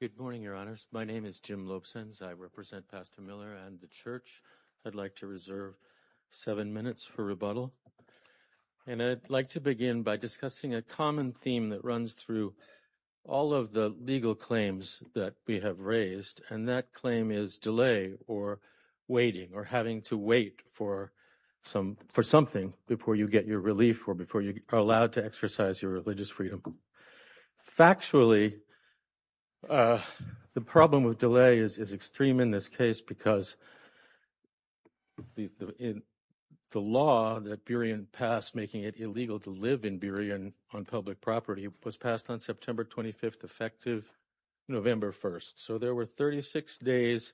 Good morning, Your Honors. My name is Jim Lopesens. I represent Pastor Miller and the church. I'd like to reserve seven minutes for rebuttal, and I'd like to begin by discussing a common theme that runs through all of the legal claims that we have raised, and that for something before you get your relief or before you are allowed to exercise your religious freedom. Factually, the problem with delay is extreme in this case because the law that Burien passed making it illegal to live in Burien on public property was passed on September 25th, effective November 1st. So there were 36 days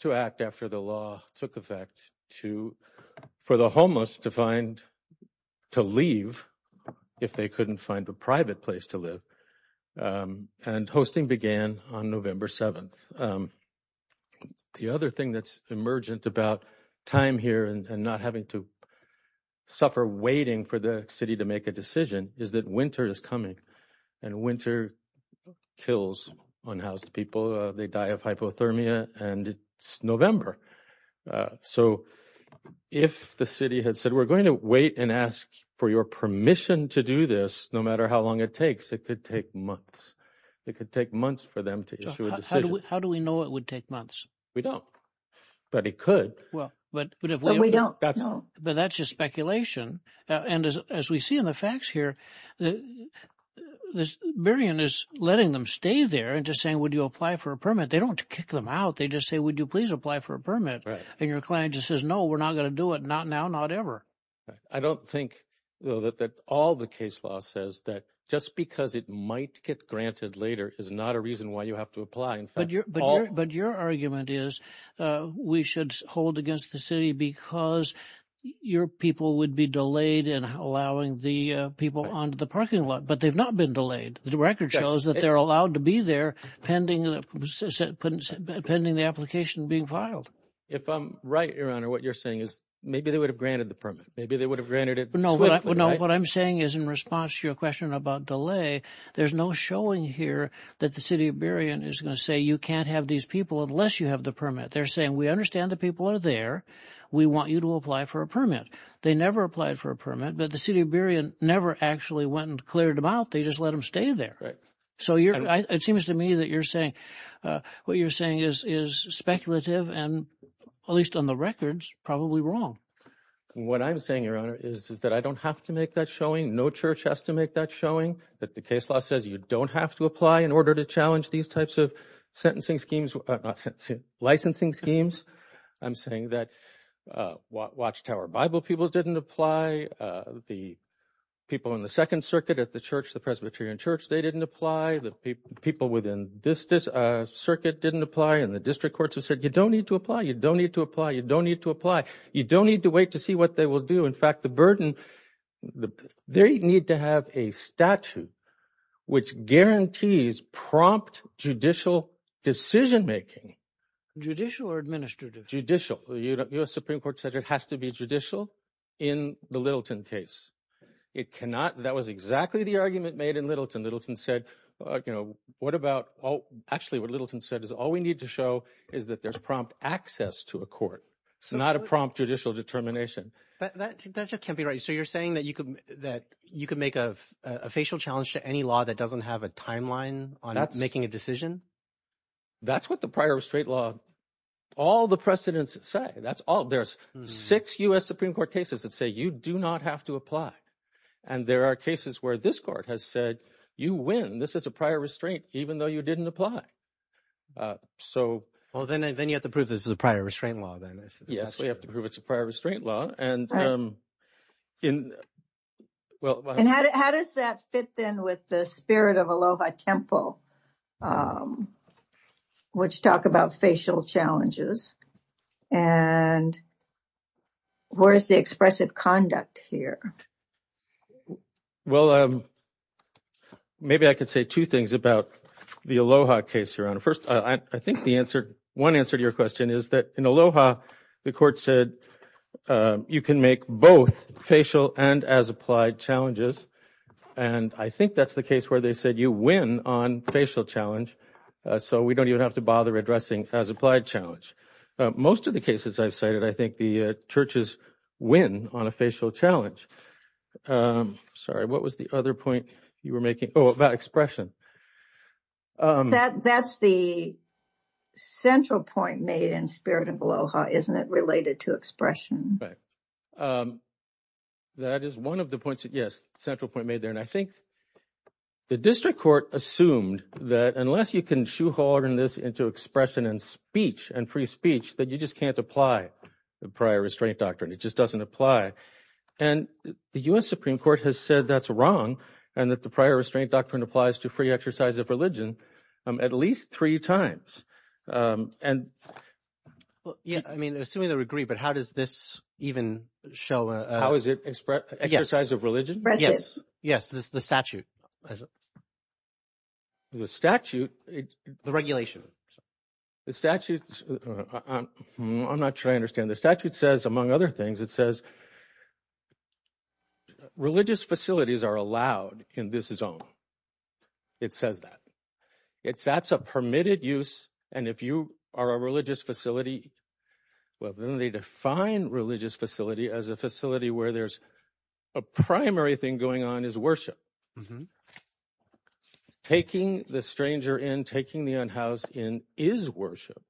to act after the law took effect for the homeless to leave if they couldn't find a private place to live, and hosting began on November 7th. The other thing that's emergent about time here and not having to suffer waiting for the city to make a decision is that winter is coming, and winter kills unhoused people. They die of hypothermia, and it's November. So if the city had said, we're going to wait and ask for your permission to do this no matter how long it takes, it could take months. It could take months for them to issue a decision. How do we know it would take months? We don't, but it could. But that's just speculation, and as we see in the facts here, the Burien is letting them stay there and just saying, would you apply for a permit? They don't kick them out. They just say, would you please apply for a permit? And your client just says, no, we're not going to do it. Not now, not ever. I don't think, though, that all the case law says that just because it might get granted later is not a reason why you have to apply. But your argument is we should hold against the city because your people would be delayed in allowing the people onto the parking lot. But they've not been delayed. The record shows that they're allowed to be there pending the application being filed. If I'm right, Your Honor, what you're saying is maybe they would have granted the permit. Maybe they would have granted it. No, what I'm saying is in response to your question about delay, there's no showing here that the city of Burien is going to say you can't have these people unless you have the permit. They're saying we understand the people are there. We want you to apply for a permit. They never applied for a permit, but the city of Burien never actually went and cleared them out. They just let them stay there. So it seems to me that what you're saying is speculative and, at least on the records, probably wrong. What I'm saying, Your Honor, is that I don't have to make that showing. No church has to make that showing that the case law says you don't have to apply in order to challenge these types of licensing schemes. I'm saying that Watchtower Bible people didn't apply. The people in the Second Circuit at the Presbyterian Church, they didn't apply. The people within this Circuit didn't apply, and the district courts have said you don't need to apply, you don't need to apply, you don't need to apply. You don't need to wait to see what they will do. In fact, the burden, they need to have a statute which guarantees prompt judicial decision making. Judicial or administrative? Administrative has to be judicial in the Littleton case. That was exactly the argument made in Littleton. Littleton said, actually what Littleton said is all we need to show is that there's prompt access to a court. It's not a prompt judicial determination. That just can't be right. So you're saying that you could make a facial challenge to any law that doesn't have a timeline on making a decision? That's what the prior straight law, all the precedents say, that's all. There's six U.S. Supreme Court cases that say you do not have to apply. And there are cases where this court has said you win. This is a prior restraint, even though you didn't apply. Well, then you have to prove this is a prior restraint law then. Yes, we have to prove it's a prior restraint law. And how does that fit then with the spirit of Aloha Temple, which talk about facial challenges? And where is the expressive conduct here? Well, maybe I could say two things about the Aloha case, Your Honor. First, I think the answer, one answer to your question is that in Aloha, the court said you can make both facial and as challenges. And I think that's the case where they said you win on facial challenge. So we don't even have to bother addressing as applied challenge. Most of the cases I've cited, I think the churches win on a facial challenge. Sorry, what was the other point you were making? Oh, about expression. That's the central point made in spirit of Aloha, isn't it related to expression? Right. That is one of the points that yes, central point made there. And I think the district court assumed that unless you can shoehorn this into expression and speech and free speech, that you just can't apply the prior restraint doctrine. It just doesn't apply. And the U.S. Supreme Court has said that's wrong and that the prior restraint doctrine applies to free exercise of religion at least three times. And yeah, I mean, assuming they agree, but how does this even show? How is it express exercise of religion? Yes. Yes. This is the statute. The statute, the regulation, the statute, I'm not sure I understand the statute says, among other things, it says. Religious facilities are allowed in this zone. It says that it's that's a permitted use. And if you are a religious facility, well, then they define religious facility as a facility where there's a primary thing going on is worship. Taking the stranger in, taking the unhoused in is worship.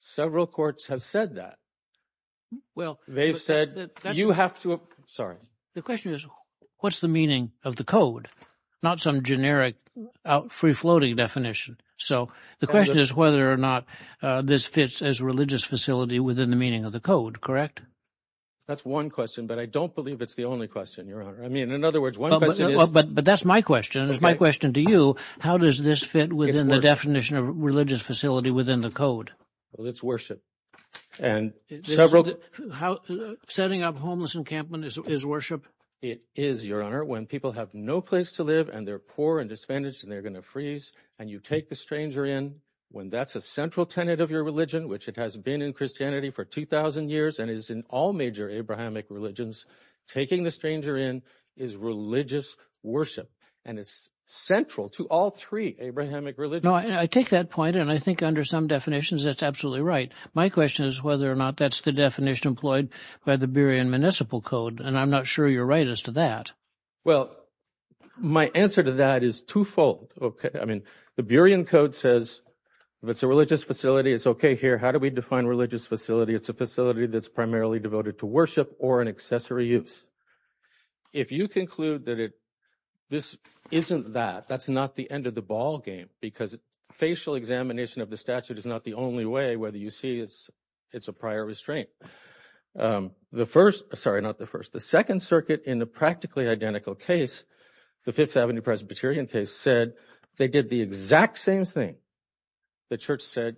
Several courts have said that. Well, they've said that you have to. Sorry. The question is, what's the meaning of the code? Not some generic free floating definition. So the question is whether or not this fits as religious facility within the meaning of the code. Correct. That's one question, but I don't believe it's the only question, Your Honor. I mean, in other words. But that's my question. It's my question to you. How does this fit within the definition of religious facility within the code? Well, it's worship and several how setting up homeless encampment is worship. It is, when people have no place to live and they're poor and disadvantaged and they're going to freeze and you take the stranger in when that's a central tenet of your religion, which it has been in Christianity for 2000 years and is in all major Abrahamic religions. Taking the stranger in is religious worship, and it's central to all three Abrahamic religion. I take that point. And I think under some definitions, that's absolutely right. My question is whether or not that's the definition employed by the Berrien Municipal Code. And I'm not sure you're right as to that. Well, my answer to that is twofold. OK, I mean, the Berrien Code says it's a religious facility. It's OK here. How do we define religious facility? It's a facility that's primarily devoted to worship or an accessory use. If you conclude that it this isn't that that's not the end of the ballgame because facial examination of the statute is not the only way, whether you see it's it's a prior restraint. The first sorry, not the first, the Second Circuit in the practically identical case, the Fifth Avenue Presbyterian case said they did the exact same thing. The church said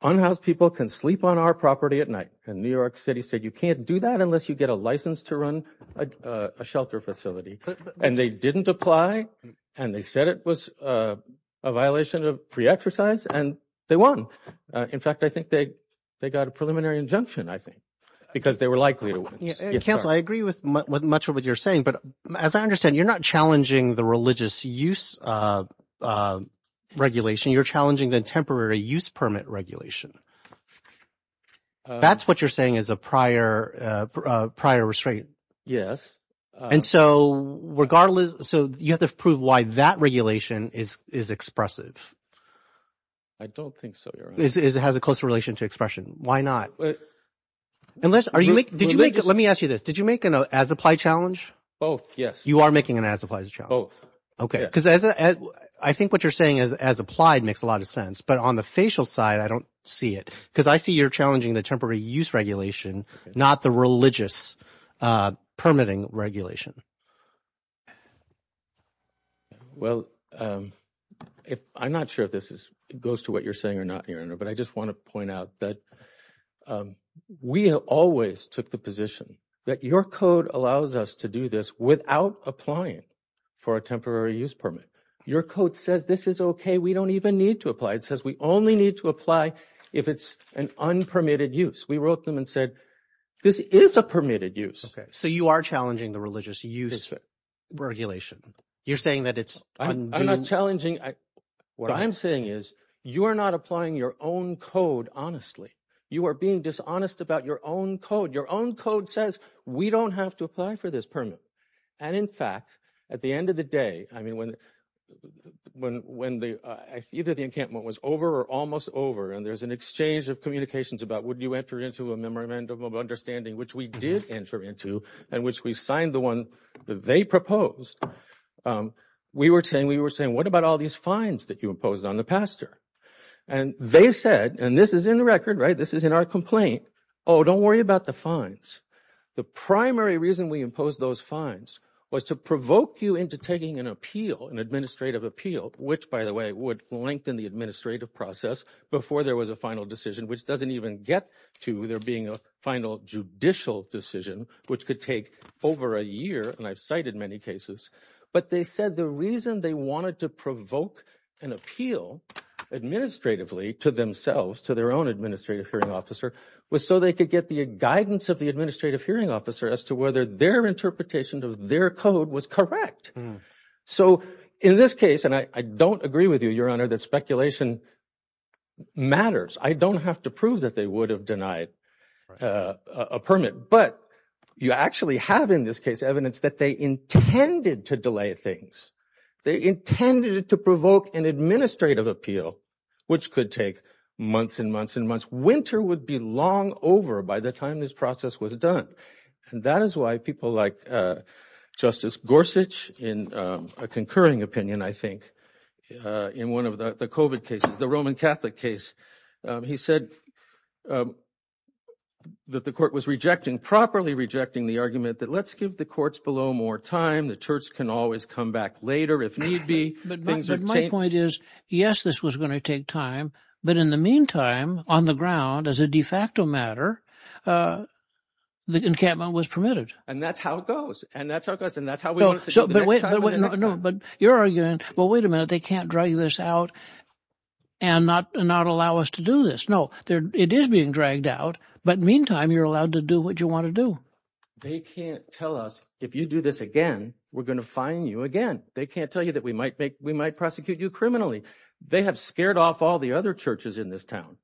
unhoused people can sleep on our property at night. And New York City said you can't do that unless you get a license to run a shelter facility. And they didn't apply and they was a violation of pre-exercise and they won. In fact, I think they they got a preliminary injunction, I think, because they were likely to cancel. I agree with much of what you're saying. But as I understand, you're not challenging the religious use of regulation. You're challenging the temporary use permit regulation. That's what you're saying is a prior prior restraint. Yes. And so regardless. So you have to prove why that regulation is is expressive. I don't think so. Is it has a close relation to expression? Why not? Unless are you make did you make it? Let me ask you this. Did you make an as applied challenge? Both? Yes. You are making an as applied both. OK, because as I think what you're saying is as applied makes a lot of sense. But on the facial side, I don't see it because I see you're challenging the temporary use regulation, not the religious permitting regulation. Well, if I'm not sure if this is it goes to what you're saying or not here, but I just want to point out that we have always took the position that your code allows us to do this without applying for a temporary use permit. Your code says this is OK. We don't even need to apply. It says we only need to apply if it's an unpermitted use. We wrote them and said, this is a permitted use. OK, so you are challenging the religious use regulation. You're saying that it's challenging. What I'm saying is you are not applying your own code. Honestly, you are being dishonest about your own code. Your own code says we don't have to apply for this permit. And in fact, at the end of the day, I mean, when when when either the encampment was over or almost over and there's an exchange of communications about would you enter into a memorandum of understanding, which we did enter into and which we signed the one that they proposed, we were saying we were saying, what about all these fines that you imposed on the pastor? And they said, and this is in the record, right? This is in our complaint. Oh, don't worry about the fines. The primary reason we those fines was to provoke you into taking an appeal, an administrative appeal, which, by the way, would lengthen the administrative process before there was a final decision, which doesn't even get to there being a final judicial decision, which could take over a year. And I've cited many cases. But they said the reason they wanted to provoke an appeal administratively to themselves, to their own administrative hearing officer, was so they could get the guidance of the administrative hearing officer as to whether their interpretation of their code was correct. So in this case, and I don't agree with you, your honor, that speculation matters. I don't have to prove that they would have denied a permit. But you actually have in this case evidence that they intended to delay things. They intended to provoke an administrative appeal, which could take months and months and that is why people like Justice Gorsuch, in a concurring opinion, I think, in one of the COVID cases, the Roman Catholic case, he said that the court was rejecting, properly rejecting the argument that let's give the courts below more time. The church can always come back later if need be. But my point is, yes, this was going to take time. But in the meantime, on the ground, as a de facto matter, the encampment was permitted. And that's how it goes. And that's how it goes. And that's how we want it to go the next time. But your argument, well, wait a minute, they can't drag this out and not allow us to do this. No, it is being dragged out. But meantime, you're allowed to do what you want to do. They can't tell us, if you do this again, we're going to fine you again. They can't tell you that we might make, we might prosecute you criminally. They have scared off all the other churches in this town.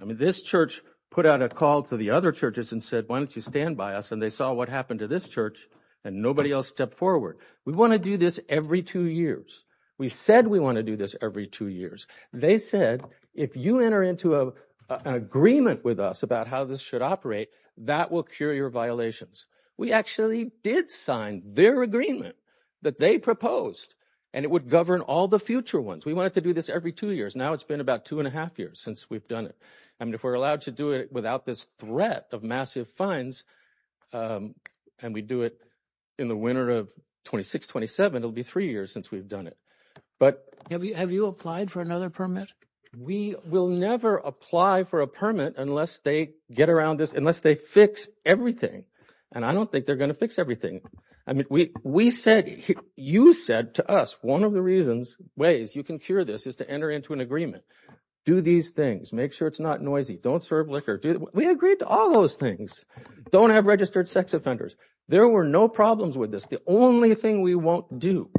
I mean, this church put out a call to the other churches and said, why don't you stand by us? And they saw what happened to this church, and nobody else stepped forward. We want to do this every two years. We said we want to do this every two years. They said, if you enter into an agreement with us about how this should operate, that will cure your violations. We actually did sign their agreement that they proposed, and it would govern all the future ones. We wanted to do this every two years. Now it's been about two and a half years since we've done it. I mean, if we're allowed to do it without this threat of massive fines, and we do it in the winter of 26, 27, it'll be three years since we've done it. But have you applied for another permit? We will never apply for a permit unless they get around this, unless they fix everything. And I don't think they're going to fix everything. I mean, we said, you said to us, one of the ways you can cure this is to enter into an agreement. Do these things. Make sure it's not noisy. Don't serve liquor. We agreed to all those things. Don't have registered sex offenders. There were no problems with this. The only thing we won't do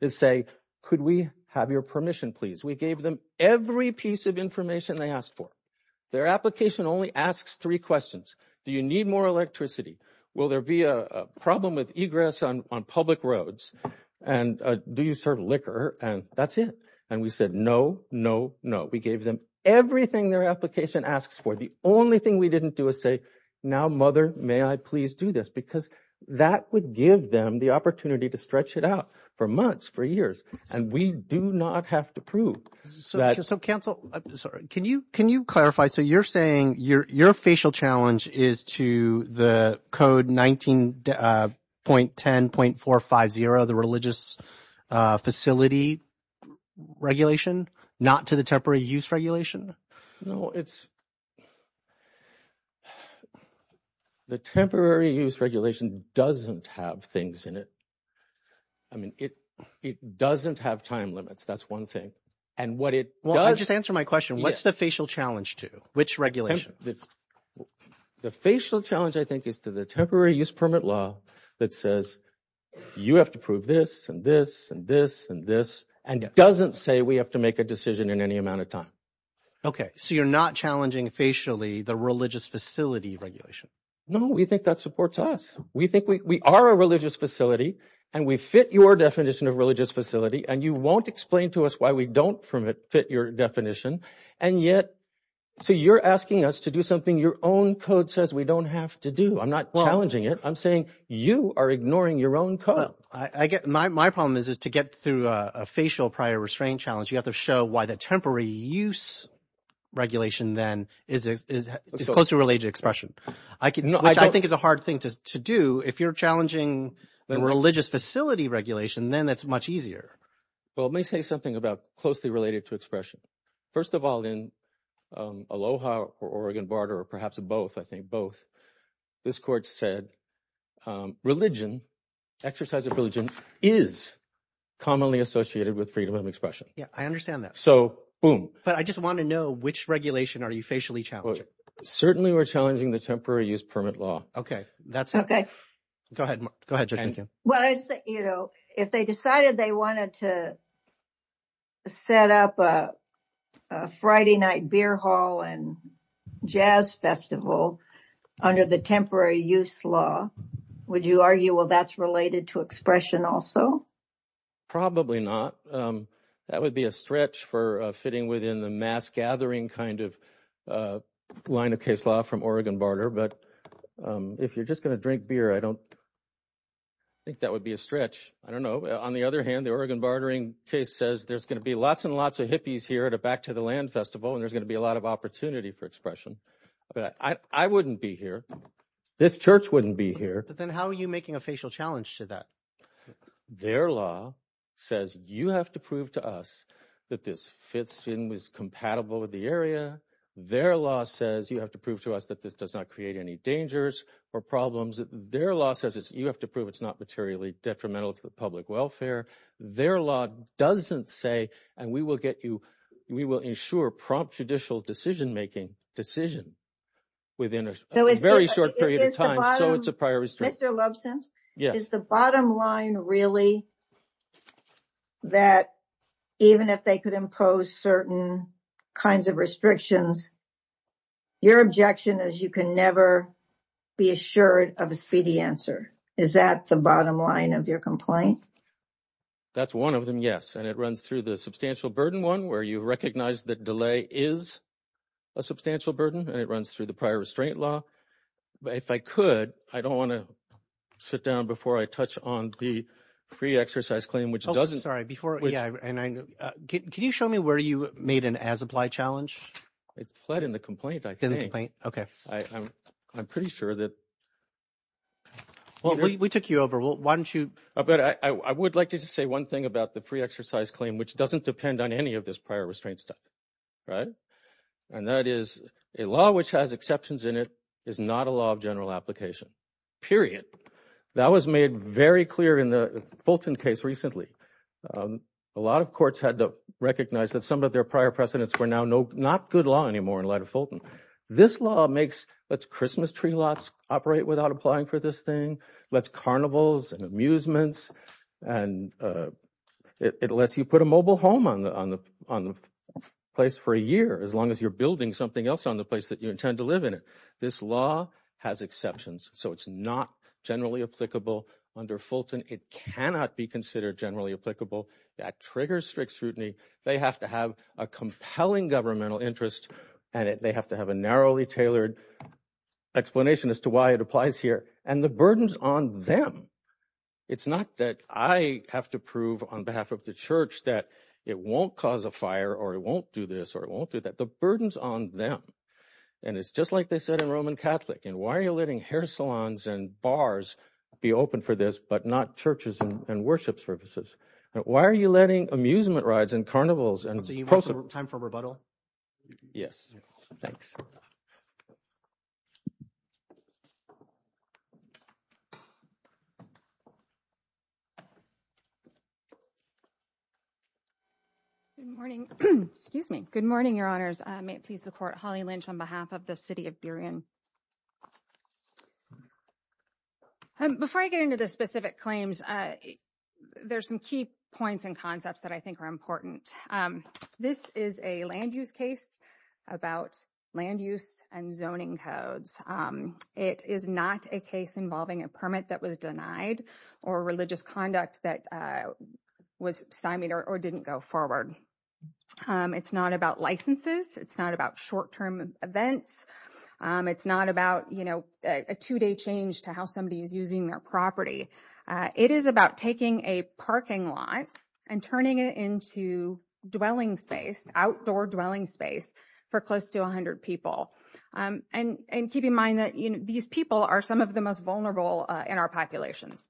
is say, could we have your permission, please? We gave them every piece of information they asked for. Their application only asks three questions. Do you need more electricity? Will there be a problem with egress on public roads? And do you serve liquor? And that's it. And we said, no, no, no. We gave them everything their application asks for. The only thing we didn't do is say, now, mother, may I please do this? Because that would give them the opportunity to stretch it out for months, for years. And we do not have to prove that. So counsel, can you clarify? So you're saying your facial challenge is to the code 19.10.450, the religious facility regulation, not to the temporary use regulation? No, it's the temporary use regulation doesn't have things in it. I mean, it doesn't have time limits. That's one thing. And what it does. Well, just answer my question. What's the facial challenge to? Which regulation? The facial challenge, I think, is to the temporary use permit law that says you have to prove this and this and this and this and doesn't say we have to make a decision in any amount of time. OK, so you're not challenging facially the religious facility regulation? No, we think that supports us. We think we are a religious facility and we fit your definition of religious facility. And you won't explain to us why we don't permit fit your definition. And yet, so you're asking us to do something your own code says we don't have to do. I'm not challenging it. I'm saying you are ignoring your own code. I get my problem is to get through a facial prior restraint challenge. You have to show why the temporary use regulation then is closely related to expression. I think it's a hard thing to do. If you're challenging the religious facility regulation, then it's much easier. Well, let me say something about closely related to expression. First of all, in Aloha or Oregon Barter, or perhaps both, I think both this court said religion, exercise of religion is commonly associated with freedom of expression. Yeah, I understand that. So boom. But I just want to know which regulation are you facially challenging? Certainly we're challenging the temporary use permit law. OK, that's OK. Go ahead. Go ahead. Well, you know, if they decided they wanted to set up a Friday night beer hall and jazz festival under the temporary use law, would you argue, well, that's related to expression also? Probably not. That would be a stretch for fitting within the mass gathering kind of line of case law from Oregon Barter. But if you're just going to drink beer, I don't think that would be a stretch. I don't know. On the other hand, the Oregon Bartering case says there's going to be lots and lots of hippies here at a back to the land festival and there's going to be a lot of opportunity for expression. But I wouldn't be here. This church wouldn't be here. But then how are you making a facial challenge to that? Their law says you have to prove to us that this fits in, is compatible with the area. Their law says you have to prove to us that this does not create any dangers or problems. Their law says you have to prove it's not materially detrimental to the public welfare. Their law doesn't say, and we will get you, we will ensure prompt judicial decision making decision within a very short period of time. So it's a priority. Mr. Lobson, is the bottom line really that even if they could impose certain kinds of restrictions, your objection is you can never be assured of a speedy answer? Is that the bottom line of your complaint? That's one of them. Yes. And it runs through the substantial burden one where you recognize that delay is a substantial burden and it runs through the prior restraint law. If I could, I don't want to sit down before I touch on the pre-exercise claim, which doesn't. Sorry, before. Yeah. And can you show me where you made an as-applied challenge? It's pled in the complaint, I think. Okay. I'm pretty sure that. Well, we took you over. Why don't you? But I would like to just say one thing about the pre-exercise claim, which doesn't depend on any of this prior restraint stuff. Right. And that is a law which has exceptions in it is not a law of general application, period. That was made very clear in the Fulton case recently. A lot of courts had to recognize that some of their prior precedents were now not good law anymore in light of Fulton. This law makes let's Christmas tree lots operate without applying for this thing. Let's carnivals and amusements and it lets you put a mobile home on the place for a year as long as you're building something else on the place that you intend to live in it. This law has exceptions, so it's not generally applicable under Fulton. It cannot be considered generally applicable. That triggers strict scrutiny. They have to have a compelling governmental interest and they have to have a narrowly tailored explanation as to why it applies here and the burdens on them. It's not that I have to prove on behalf of the church that it won't cause a fire or it won't do this or it won't do that. The burdens on them. And it's just like they said in Roman Catholic. And why are you letting hair salons and bars be open for this, but not churches and worship services? Why are you letting amusement rides and carnivals and time for rebuttal? Yes, thanks. Good morning. Excuse me. Good morning, Your Honors. I may please the court. Holly Lynch on behalf of the city of Burien. Before I get into the specific claims, there's some key points and concepts that I think are important. This is a land use case about land use and zoning codes. It is not a case involving a permit that was denied or religious conduct that was stymied or didn't go forward. It's not about licenses. It's not about short term events. It's not about, you know, a two day change to how somebody is using their property. It is about taking a parking lot and turning it into dwelling space, outdoor dwelling space for close to 100 people. And keep in mind that these people are some of the most vulnerable in our populations.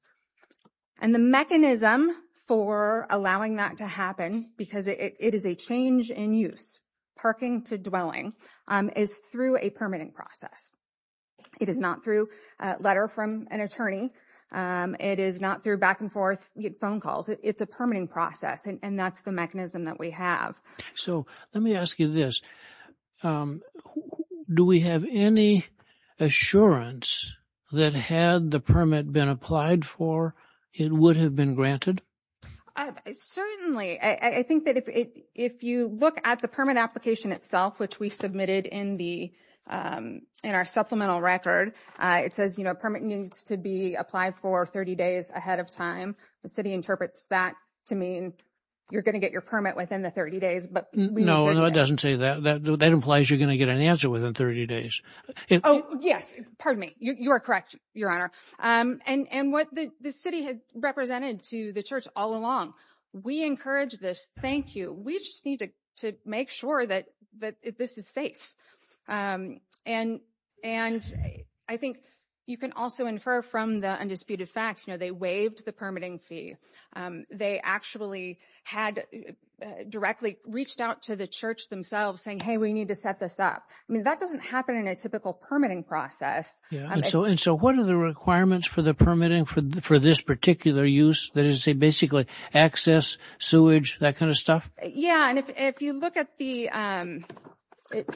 And the mechanism for allowing that to happen, because it is a change in use, parking to dwelling, is through a permitting process. It is not through a letter from an attorney. It is not through back and forth phone calls. It's a permitting process. And that's the mechanism that we have. So let me ask you this. Do we have any assurance that had the permit been applied for, it would have been granted? Certainly. I think that if you look at the permit application itself, which we submitted in the in our supplemental record, it says, you know, permit needs to be applied for 30 days ahead of time. The city interprets that to mean you're going to get your permit within the 30 days. No, no, it doesn't say that. That implies you're going to get an answer within 30 days. Oh, yes. Pardon me. You are correct, Your Honor. And what the city had represented to the church all along. We encourage this. Thank you. We just need to make sure that this is safe. And and I think you can also infer from the undisputed facts, you know, they waived the permitting fee. They actually had directly reached out to the church themselves saying, hey, we need to set this up. I mean, that doesn't happen in a typical permitting process. Yeah. And so and so what are the requirements for the permitting for this particular use? That is a basically access sewage, that kind of stuff. Yeah. And if you look at the it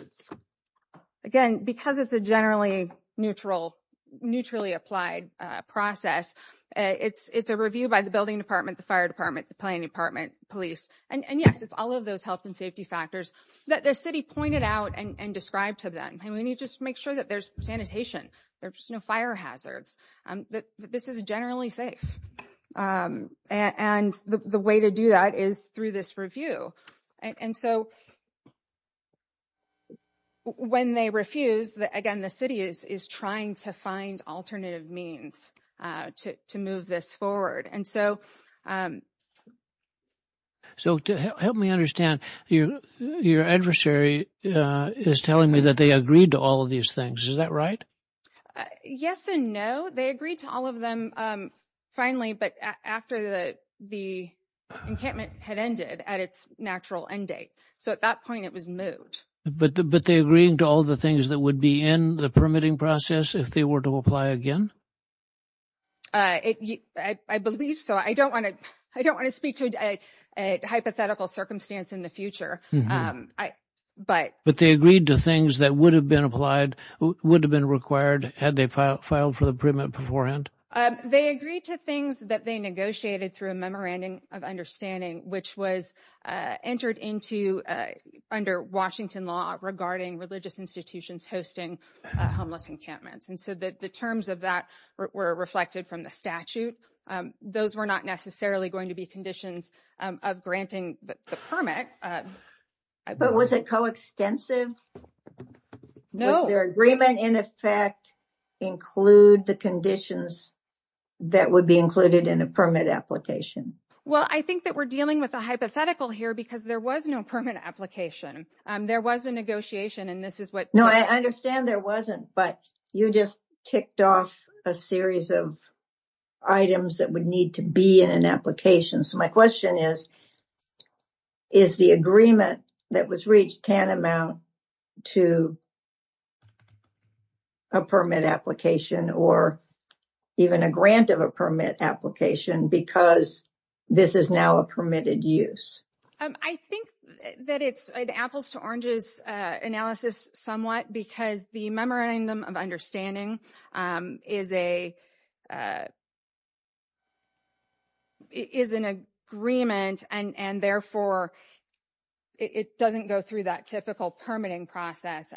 again, because it's a generally neutral, neutrally applied process, it's it's a review by the building department, the fire department, the planning department, police. And yes, it's all of those health and safety factors that the city pointed out and described to them. And we need to make sure that there's sanitation, there's no fire hazards, that this is generally safe. And the way to do that is through this review. And so when they refuse, again, the city is trying to find alternative means to move this forward. And so. So help me understand, your adversary is telling me that they agreed to all of these things. Is that right? Yes and no. They agreed to all of them finally, but after the encampment had ended at its natural end date. So at that point it was moved. But but they agreeing to all the things that would be in the permitting process if they were to apply again? I believe so. I don't want to I don't want to speak to a hypothetical circumstance in the future. I but. But they agreed to things that would have been applied, would have been required had they filed for the permit beforehand. They agreed to things that they negotiated through a memorandum of understanding, which was entered into under Washington law regarding religious institutions hosting homeless encampments. And so the terms of that were reflected from the statute. Those were not necessarily going to be conditions of granting the permit. But was it coextensive? No. Was their agreement in effect include the conditions that would be included in a permit application? Well, I think that we're dealing with a hypothetical here because there was no permit application. There was a negotiation and this is what. No, I understand there wasn't. But you just ticked off a series of items that would need to be in an application. So my question is, is the agreement that was reached tantamount to a permit application or even a grant of a permit application because this is now a permitted use? I think that it's an apples to oranges analysis somewhat because the memorandum of understanding is a. Is an agreement and therefore it doesn't go through that typical permitting process.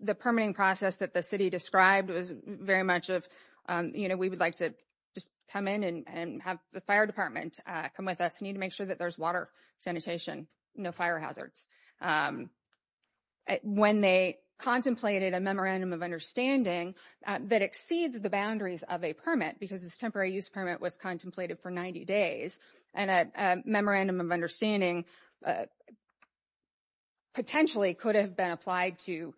The permitting process that the city described was very much of we would like to just come in and have the fire department come with us need to make sure that there's water sanitation, no fire hazards. When they contemplated a memorandum of understanding that exceeds the boundaries of a permit because this temporary use permit was contemplated for 90 days and a memorandum of understanding. Potentially could have been applied to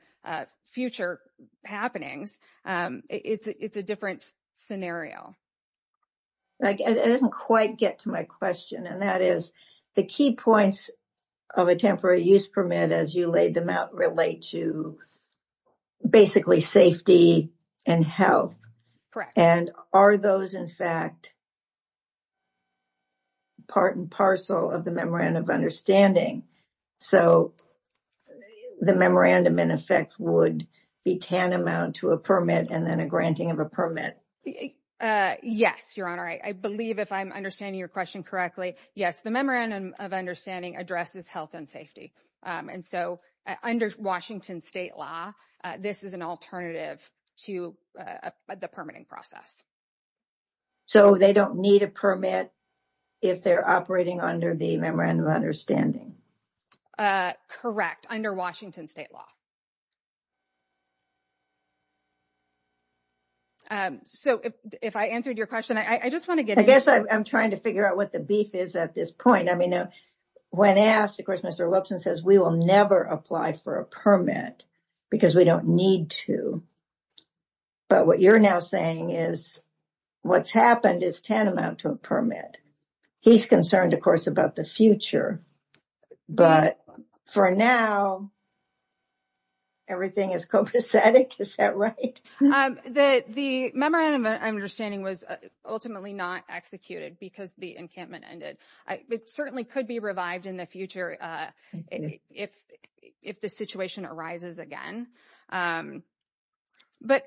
future happenings. It's a different scenario. It doesn't quite get to my question and that is the key points of a temporary use permit as you laid them out relate to basically safety and health. Correct. And are those in fact part and parcel of the memorandum of understanding? So the memorandum in effect would be tantamount to a permit and then a granting of a permit? Yes, your honor. I believe if I'm understanding your question correctly. Yes, the memorandum of understanding addresses health and safety and so under Washington state law this is an alternative to the permitting process. So they don't need a permit if they're operating under the memorandum of understanding? Correct, under Washington state law. So if I answered your question, I just want to get. I guess I'm trying to figure out what the beef is at this point. I mean when asked of course Mr. Lipson says we will never apply for a permit because we don't need to. But what you're now saying is what's happened is tantamount to a permit. But for now everything is copacetic. Is that right? The memorandum of understanding was ultimately not executed because the encampment ended. It certainly could be revived in the future if the situation arises again. But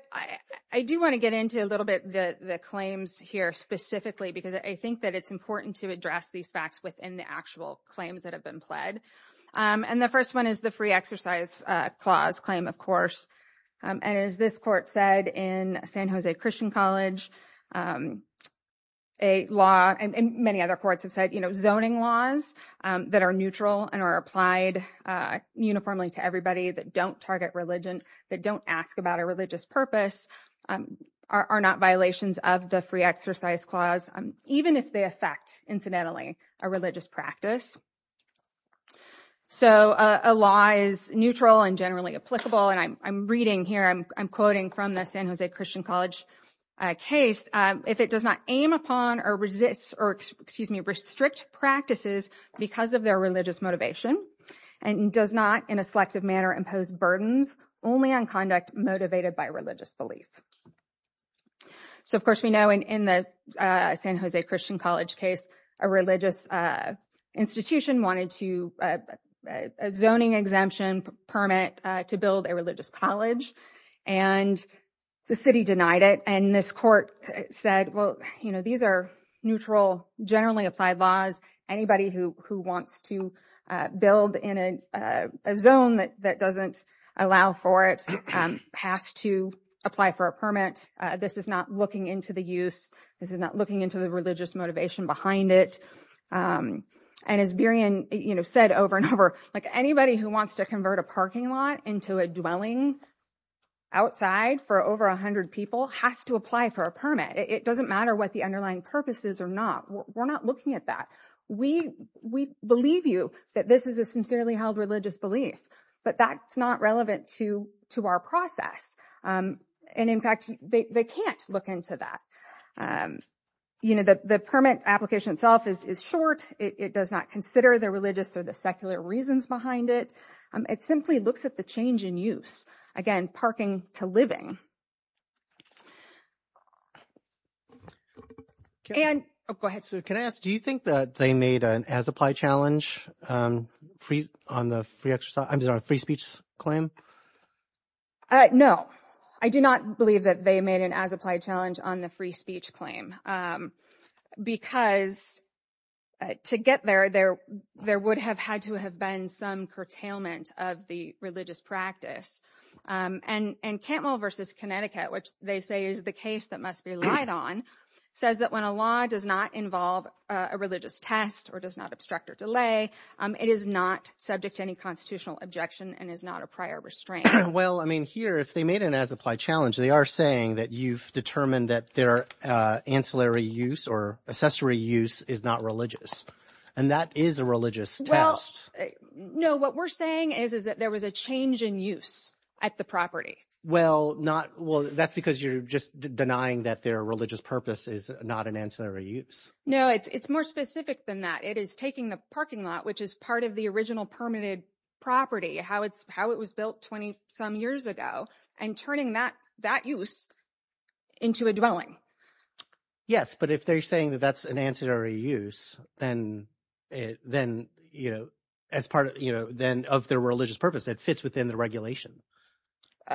I do want to get into a little bit the claims here specifically because I think that it's important to address these facts within the actual claims that have been pled. And the first one is the free exercise clause claim of course. And as this court said in San Jose Christian College, a law and many other courts have said you know zoning laws that are neutral and are applied uniformly to everybody that don't target religion, that don't ask about a religious purpose, are not violations of the free exercise clause even if they affect incidentally a religious practice. So a law is neutral and generally applicable and I'm reading here I'm quoting from the San Jose Christian College case. If it does not aim upon or resist or excuse me restrict practices because of their religious motivation and does not in a selective manner impose burdens only on conduct motivated by religious belief. So of course we know in the San Jose Christian College case a religious institution wanted to a zoning exemption permit to build a religious college and the city denied it. And this court said well you know these are neutral generally applied laws anybody who wants to build in a zone that doesn't allow for it has to apply for a permit. This is not looking into the use, this is not looking into the religious motivation behind it. And as Berion you know said over and over like anybody who wants to convert a parking lot into a dwelling outside for over a hundred people has to apply for a permit. It doesn't matter what the underlying purpose is or not, we're not looking at that. We believe you that this is a sincerely held religious belief but that's not relevant to our process and in fact they can't look into that. You know the permit application itself is short, it does not consider the religious or the secular reasons behind it. It simply looks at the change in use, again parking to living. And oh go ahead. So can I ask do you think that they made an as-applied challenge on the free exercise, I'm sorry free speech claim? No I do not believe that they made an as-applied challenge on the free speech claim because to get there there would have had to have been some curtailment of the religious practice. And Cantwell versus Connecticut which they say is the case that must be relied on, says that when a law does not involve a religious test or does not obstruct or delay, it is not subject to any constitutional objection and is not a prior restraint. Well I mean here if they made an as-applied challenge they are saying that you've determined that their ancillary use or accessory use is not religious and that is a religious test. No what we're saying is is that there was a change in use at the property. Well not well that's because you're just denying that their religious purpose is not an ancillary use. No it's more specific than that. It is taking the parking lot which is part of the original permitted property, how it's how it was built 20 some years ago and turning that that use into a dwelling. Yes but if they're saying that that's an ancillary use then it then you know as part of you know then of their religious purpose that fits within the regulation.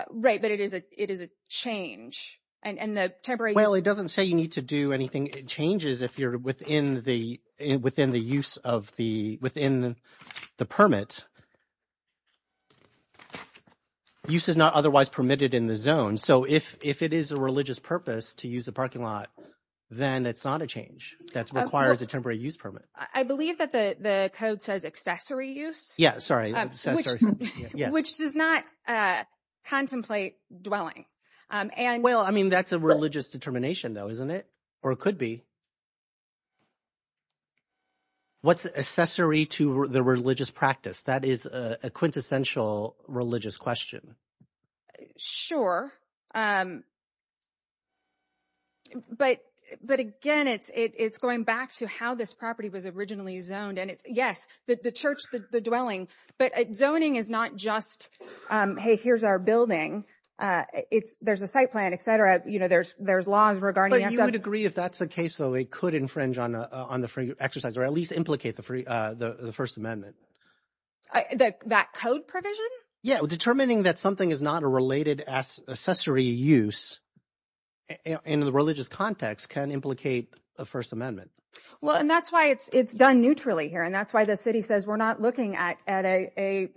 Right but it is a it is a change and and the temporary. Well it doesn't say you need to do anything it changes if you're within the within the use of the within the permit. Use is not otherwise permitted in the zone so if if it is a religious purpose to use the parking lot then it's not a change that requires a temporary use permit. I believe that the the code says accessory use. Yeah sorry. Which does not contemplate dwelling and. Well I mean that's a religious determination though isn't it or it could be. What's accessory to the religious practice that is a quintessential religious question. Sure but but again it's it's going back to how this property was originally zoned and it's yes the the church the the dwelling but zoning is not just hey here's our building it's there's a site plan etc you know there's there's laws regarding. But you would agree if that's a case though it could infringe on on the exercise or at least implicate the the first amendment. That code provision? Yeah determining that something is not a related as accessory use in the religious context can implicate a first amendment. Well and that's why it's it's done neutrally here and that's why the city says we're not looking at at a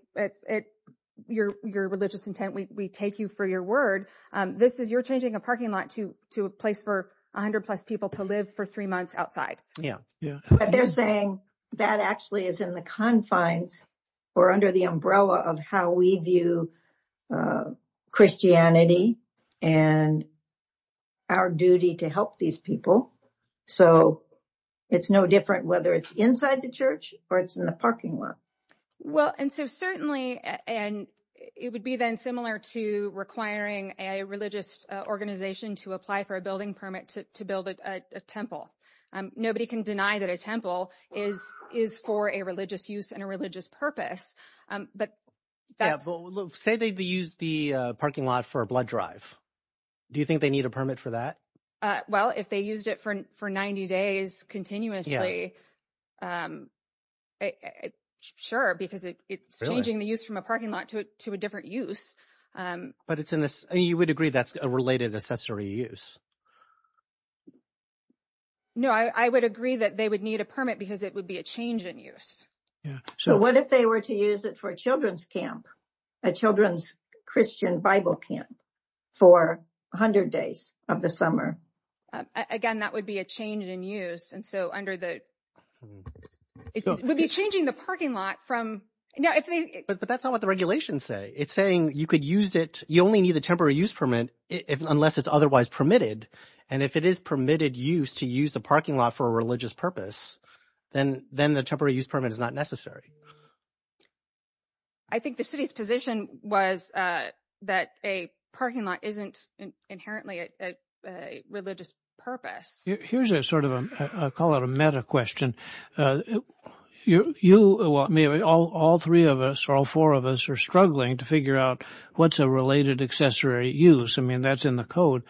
at your your religious intent we take you for your word this is you're changing a parking lot to to a place for 100 plus people to live for three months outside. Yeah yeah. But they're saying that actually is in the confines or under the umbrella of how we view Christianity and our duty to help these people. So it's no different whether it's inside the church or it's in the parking lot. Well and so certainly and it would be then similar to requiring a religious organization to apply for a building permit to build a temple. Nobody can deny that a temple is is for a religious use and a religious purpose. But say they use the parking lot for a blood drive. Do you think they need a permit for that? Well if they used it for for 90 days continuously sure because it's changing the use from a parking lot to a different use. But it's in this and you would agree that's a related accessory use. No I would agree that they would need a permit because it would be a change in use. So what if they were to use it for a children's camp? A children's Christian bible camp for 100 days of the summer. Again that would be a change in use and so under the it would be changing the parking lot from now if they. But that's not what the regulations say. It's saying you could use it you only need the temporary use permit unless it's otherwise permitted and if it is permitted use to use the parking lot for a religious purpose then the temporary use permit is not necessary. I think the city's position was that a parking lot isn't inherently a religious purpose. Here's a sort of a call it a meta question. All three of us or all four of us are struggling to figure out what's a related accessory use. I mean that's in the code.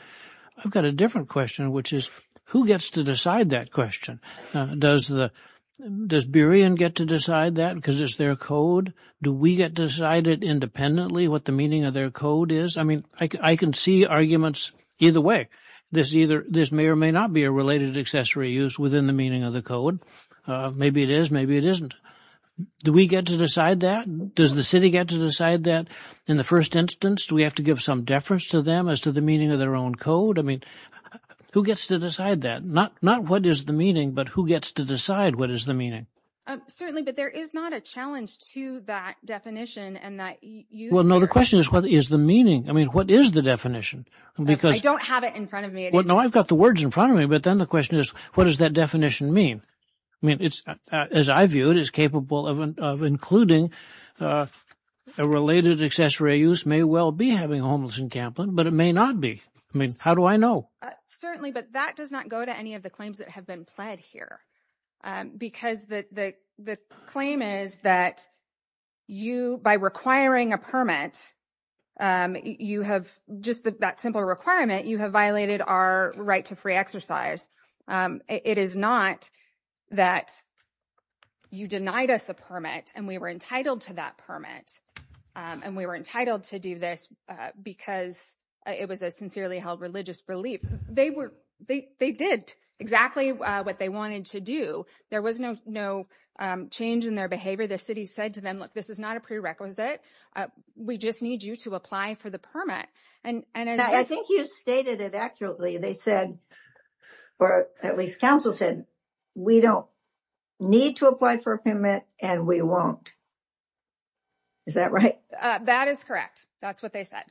I've got a different question which is who gets to decide that question? Does the does Burien get to decide that because it's their code? Do we get decided independently what the meaning of their code is? I mean I can see arguments either way. This either this may or may not be a related accessory use within the meaning of the code. Maybe it is maybe it isn't. Do we get to decide that? Does the city get to decide that in the first instance? Do we have to give some deference to them as to the meaning of their own code? I mean who gets to decide that? Not what is the meaning but who gets to decide what is the meaning? Certainly but there is not a challenge to that definition and that use. Well no the question is what is the meaning? I mean what is the definition? I don't have it in front of me. No I've got the words in front of me but then the question is what does that definition mean? I mean it's as I view it is capable of including a related accessory use may well be having homeless encampment but it may not be. I mean how do I know? Certainly but that does not go to any of the claims that have been pled here because the claim is that you by requiring a permit um you have just that simple requirement you have violated our right to free exercise. It is not that you denied us a permit and we were entitled to that permit and we were entitled to do this because it was a sincerely held religious relief. They were they they did exactly what they wanted to do. There was no no change in their behavior. The city said to them look this is not a prerequisite. We just need you to apply for the permit and and I think you stated it accurately. They said or at least council said we don't need to apply for a permit and we won't. Is that right? That is correct. That's what they said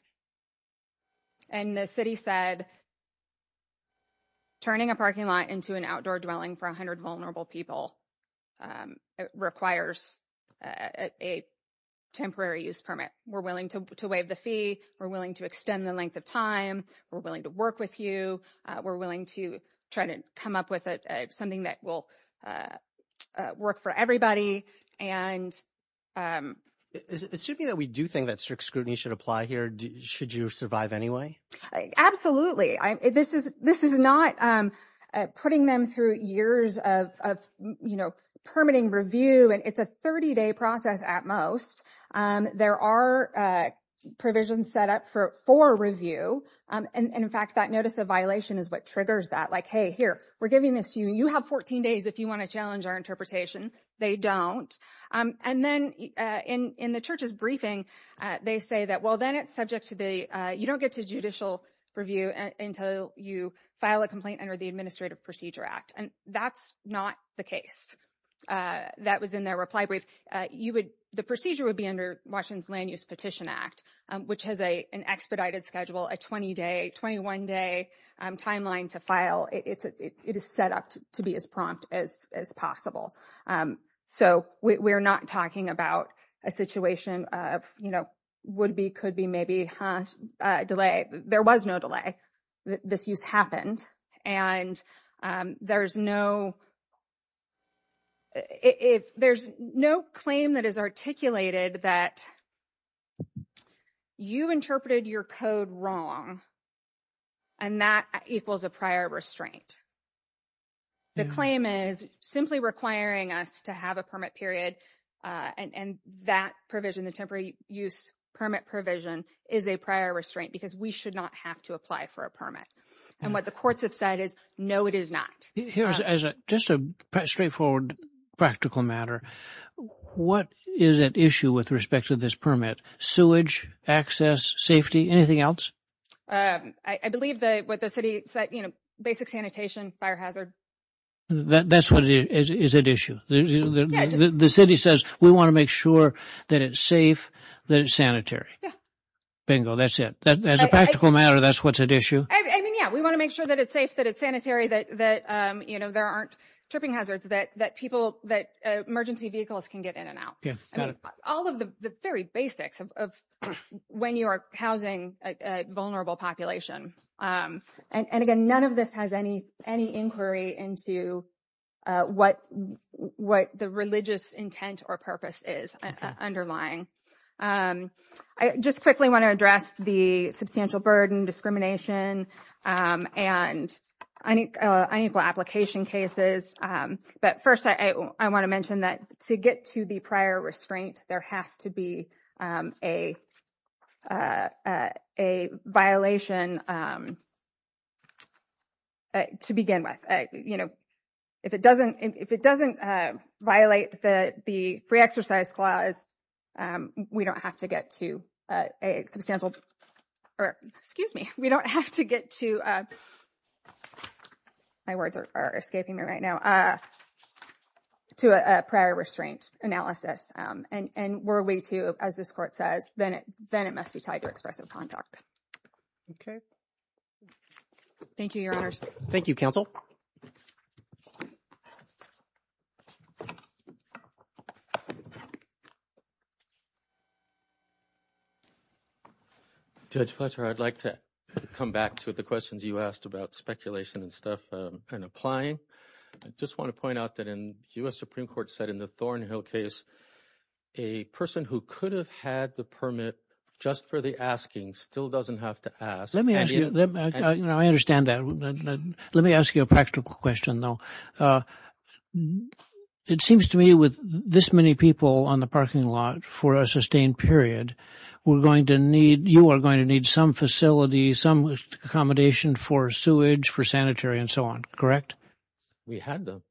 and the city said turning a parking lot into an outdoor dwelling for 100 vulnerable people um requires a temporary use permit. We're willing to waive the fee. We're willing to extend the length of time. We're willing to work with you. We're willing to try to come up with something that will work for everybody and um. Assuming that we do think that strict scrutiny should apply here should you survive anyway? Absolutely. This is this is not um putting them through years of of you know permitting review and it's a 30-day process at most um there are uh provisions set up for for review um and in fact that notice of violation is what triggers that like hey here we're giving this to you. You have 14 days if you want to challenge our interpretation. They don't um and then uh in in the church's briefing uh they say that well then it's you don't get to judicial review until you file a complaint under the Administrative Procedure Act and that's not the case uh that was in their reply brief. You would the procedure would be under Washington's Land Use Petition Act which has a an expedited schedule a 20-day 21-day um timeline to file. It's a it is set up to be as prompt as as possible um so we're not talking about a situation of you know would be could be maybe huh delay there was no delay this use happened and um there's no if there's no claim that is articulated that you interpreted your code wrong and that equals a prior restraint. The claim is simply requiring us to have a permit period uh and and that provision the temporary use permit provision is a prior restraint because we should not have to apply for a permit and what the courts have said is no it is not. Here's as a just a straightforward practical matter. What is at issue with respect to this permit? Sewage, access, safety, anything else? I believe that what the city said you know basic sanitation, fire hazard. That's what is at issue. The city says we want to make sure that it's safe, that it's sanitary. Bingo that's it as a practical matter that's what's at issue. I mean yeah we want to make sure that it's safe, that it's sanitary, that that um you know there aren't tripping hazards that that people that emergency vehicles can get in and out. All of the very basics of when you are housing a vulnerable population and again none of this has any any inquiry into what what the religious intent or purpose is underlying. I just quickly want to address the substantial burden discrimination um and unequal application cases um but first I want to mention that to get to the prior restraint there has to be um a uh a violation um to begin with. You know if it doesn't if it doesn't violate the the free exercise clause um we don't have to get to a substantial or excuse me we don't have to get to uh my words are escaping me right now uh to a prior restraint analysis um and and were we to as this court says then it then it must be tied to expressive conduct. Okay thank you your honors. Thank you counsel. Judge Fletcher I'd like to come back to the questions you asked about speculation and stuff um and applying. I just want to point out that in U.S. Supreme Court said in the Thornhill case a person who could have had the permit just for the asking still doesn't have to ask. Let me ask you you know I understand that let me ask you a practical question though. It seems to me with this many people on the parking lot for a sustained period we're going to need you are going to need some facility some accommodation for sewage for sanitary and so on correct? We had them.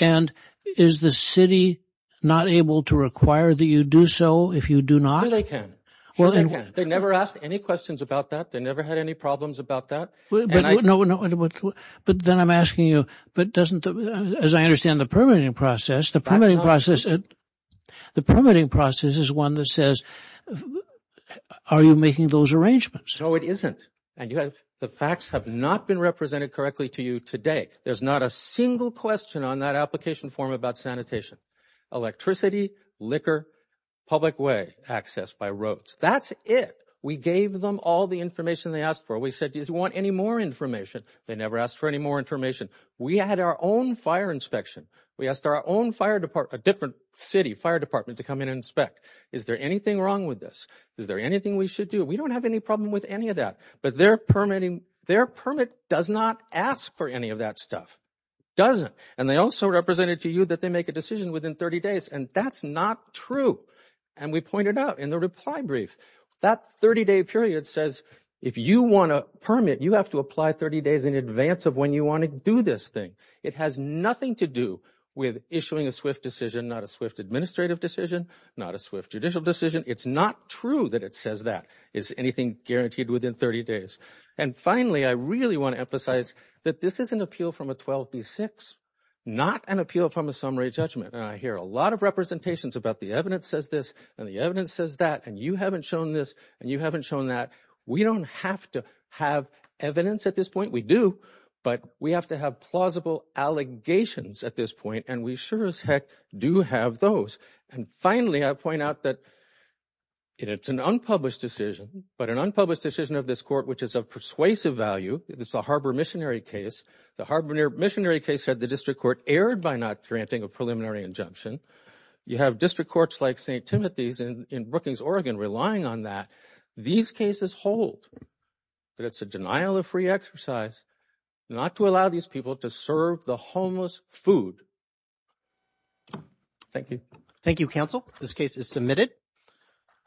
And is the city not able to require that you do so if you do not? They can well they never asked any questions about that they never had any problems about that. But then I'm asking you but doesn't as I understand the permitting process the process the permitting process is one that says are you making those arrangements? No it isn't and you have the facts have not been represented correctly to you today. There's not a single question on that application form about sanitation, electricity, liquor, public way access by roads. That's it we gave them all the information they asked for. We said do you want any more information they never asked for any more information. We had our own fire inspection we asked our own fire department a different city fire department to come in and inspect. Is there anything wrong with this? Is there anything we should do? We don't have any problem with any of that but their permitting their permit does not ask for any of that stuff doesn't and they also represented to you that they make a decision within 30 days. And that's not true and we pointed out in the reply brief that 30-day period says if you want permit you have to apply 30 days in advance of when you want to do this thing. It has nothing to do with issuing a SWIFT decision not a SWIFT administrative decision not a SWIFT judicial decision. It's not true that it says that is anything guaranteed within 30 days. And finally I really want to emphasize that this is an appeal from a 12b6 not an appeal from a summary judgment and I hear a lot of representations about the evidence says this and the evidence says that and you haven't shown this and you haven't shown that. We don't have to have evidence at this point. We do but we have to have plausible allegations at this point and we sure as heck do have those. And finally I point out that it's an unpublished decision but an unpublished decision of this court which is of persuasive value it's a Harbor missionary case. The Harbor missionary case had the district court erred by not granting a preliminary injunction. You have district courts like St. Timothy's in Brookings, Oregon relying on that. These cases hold that it's a denial of free exercise not to allow these people to serve the homeless food. Thank you. Thank you counsel this case is submitted.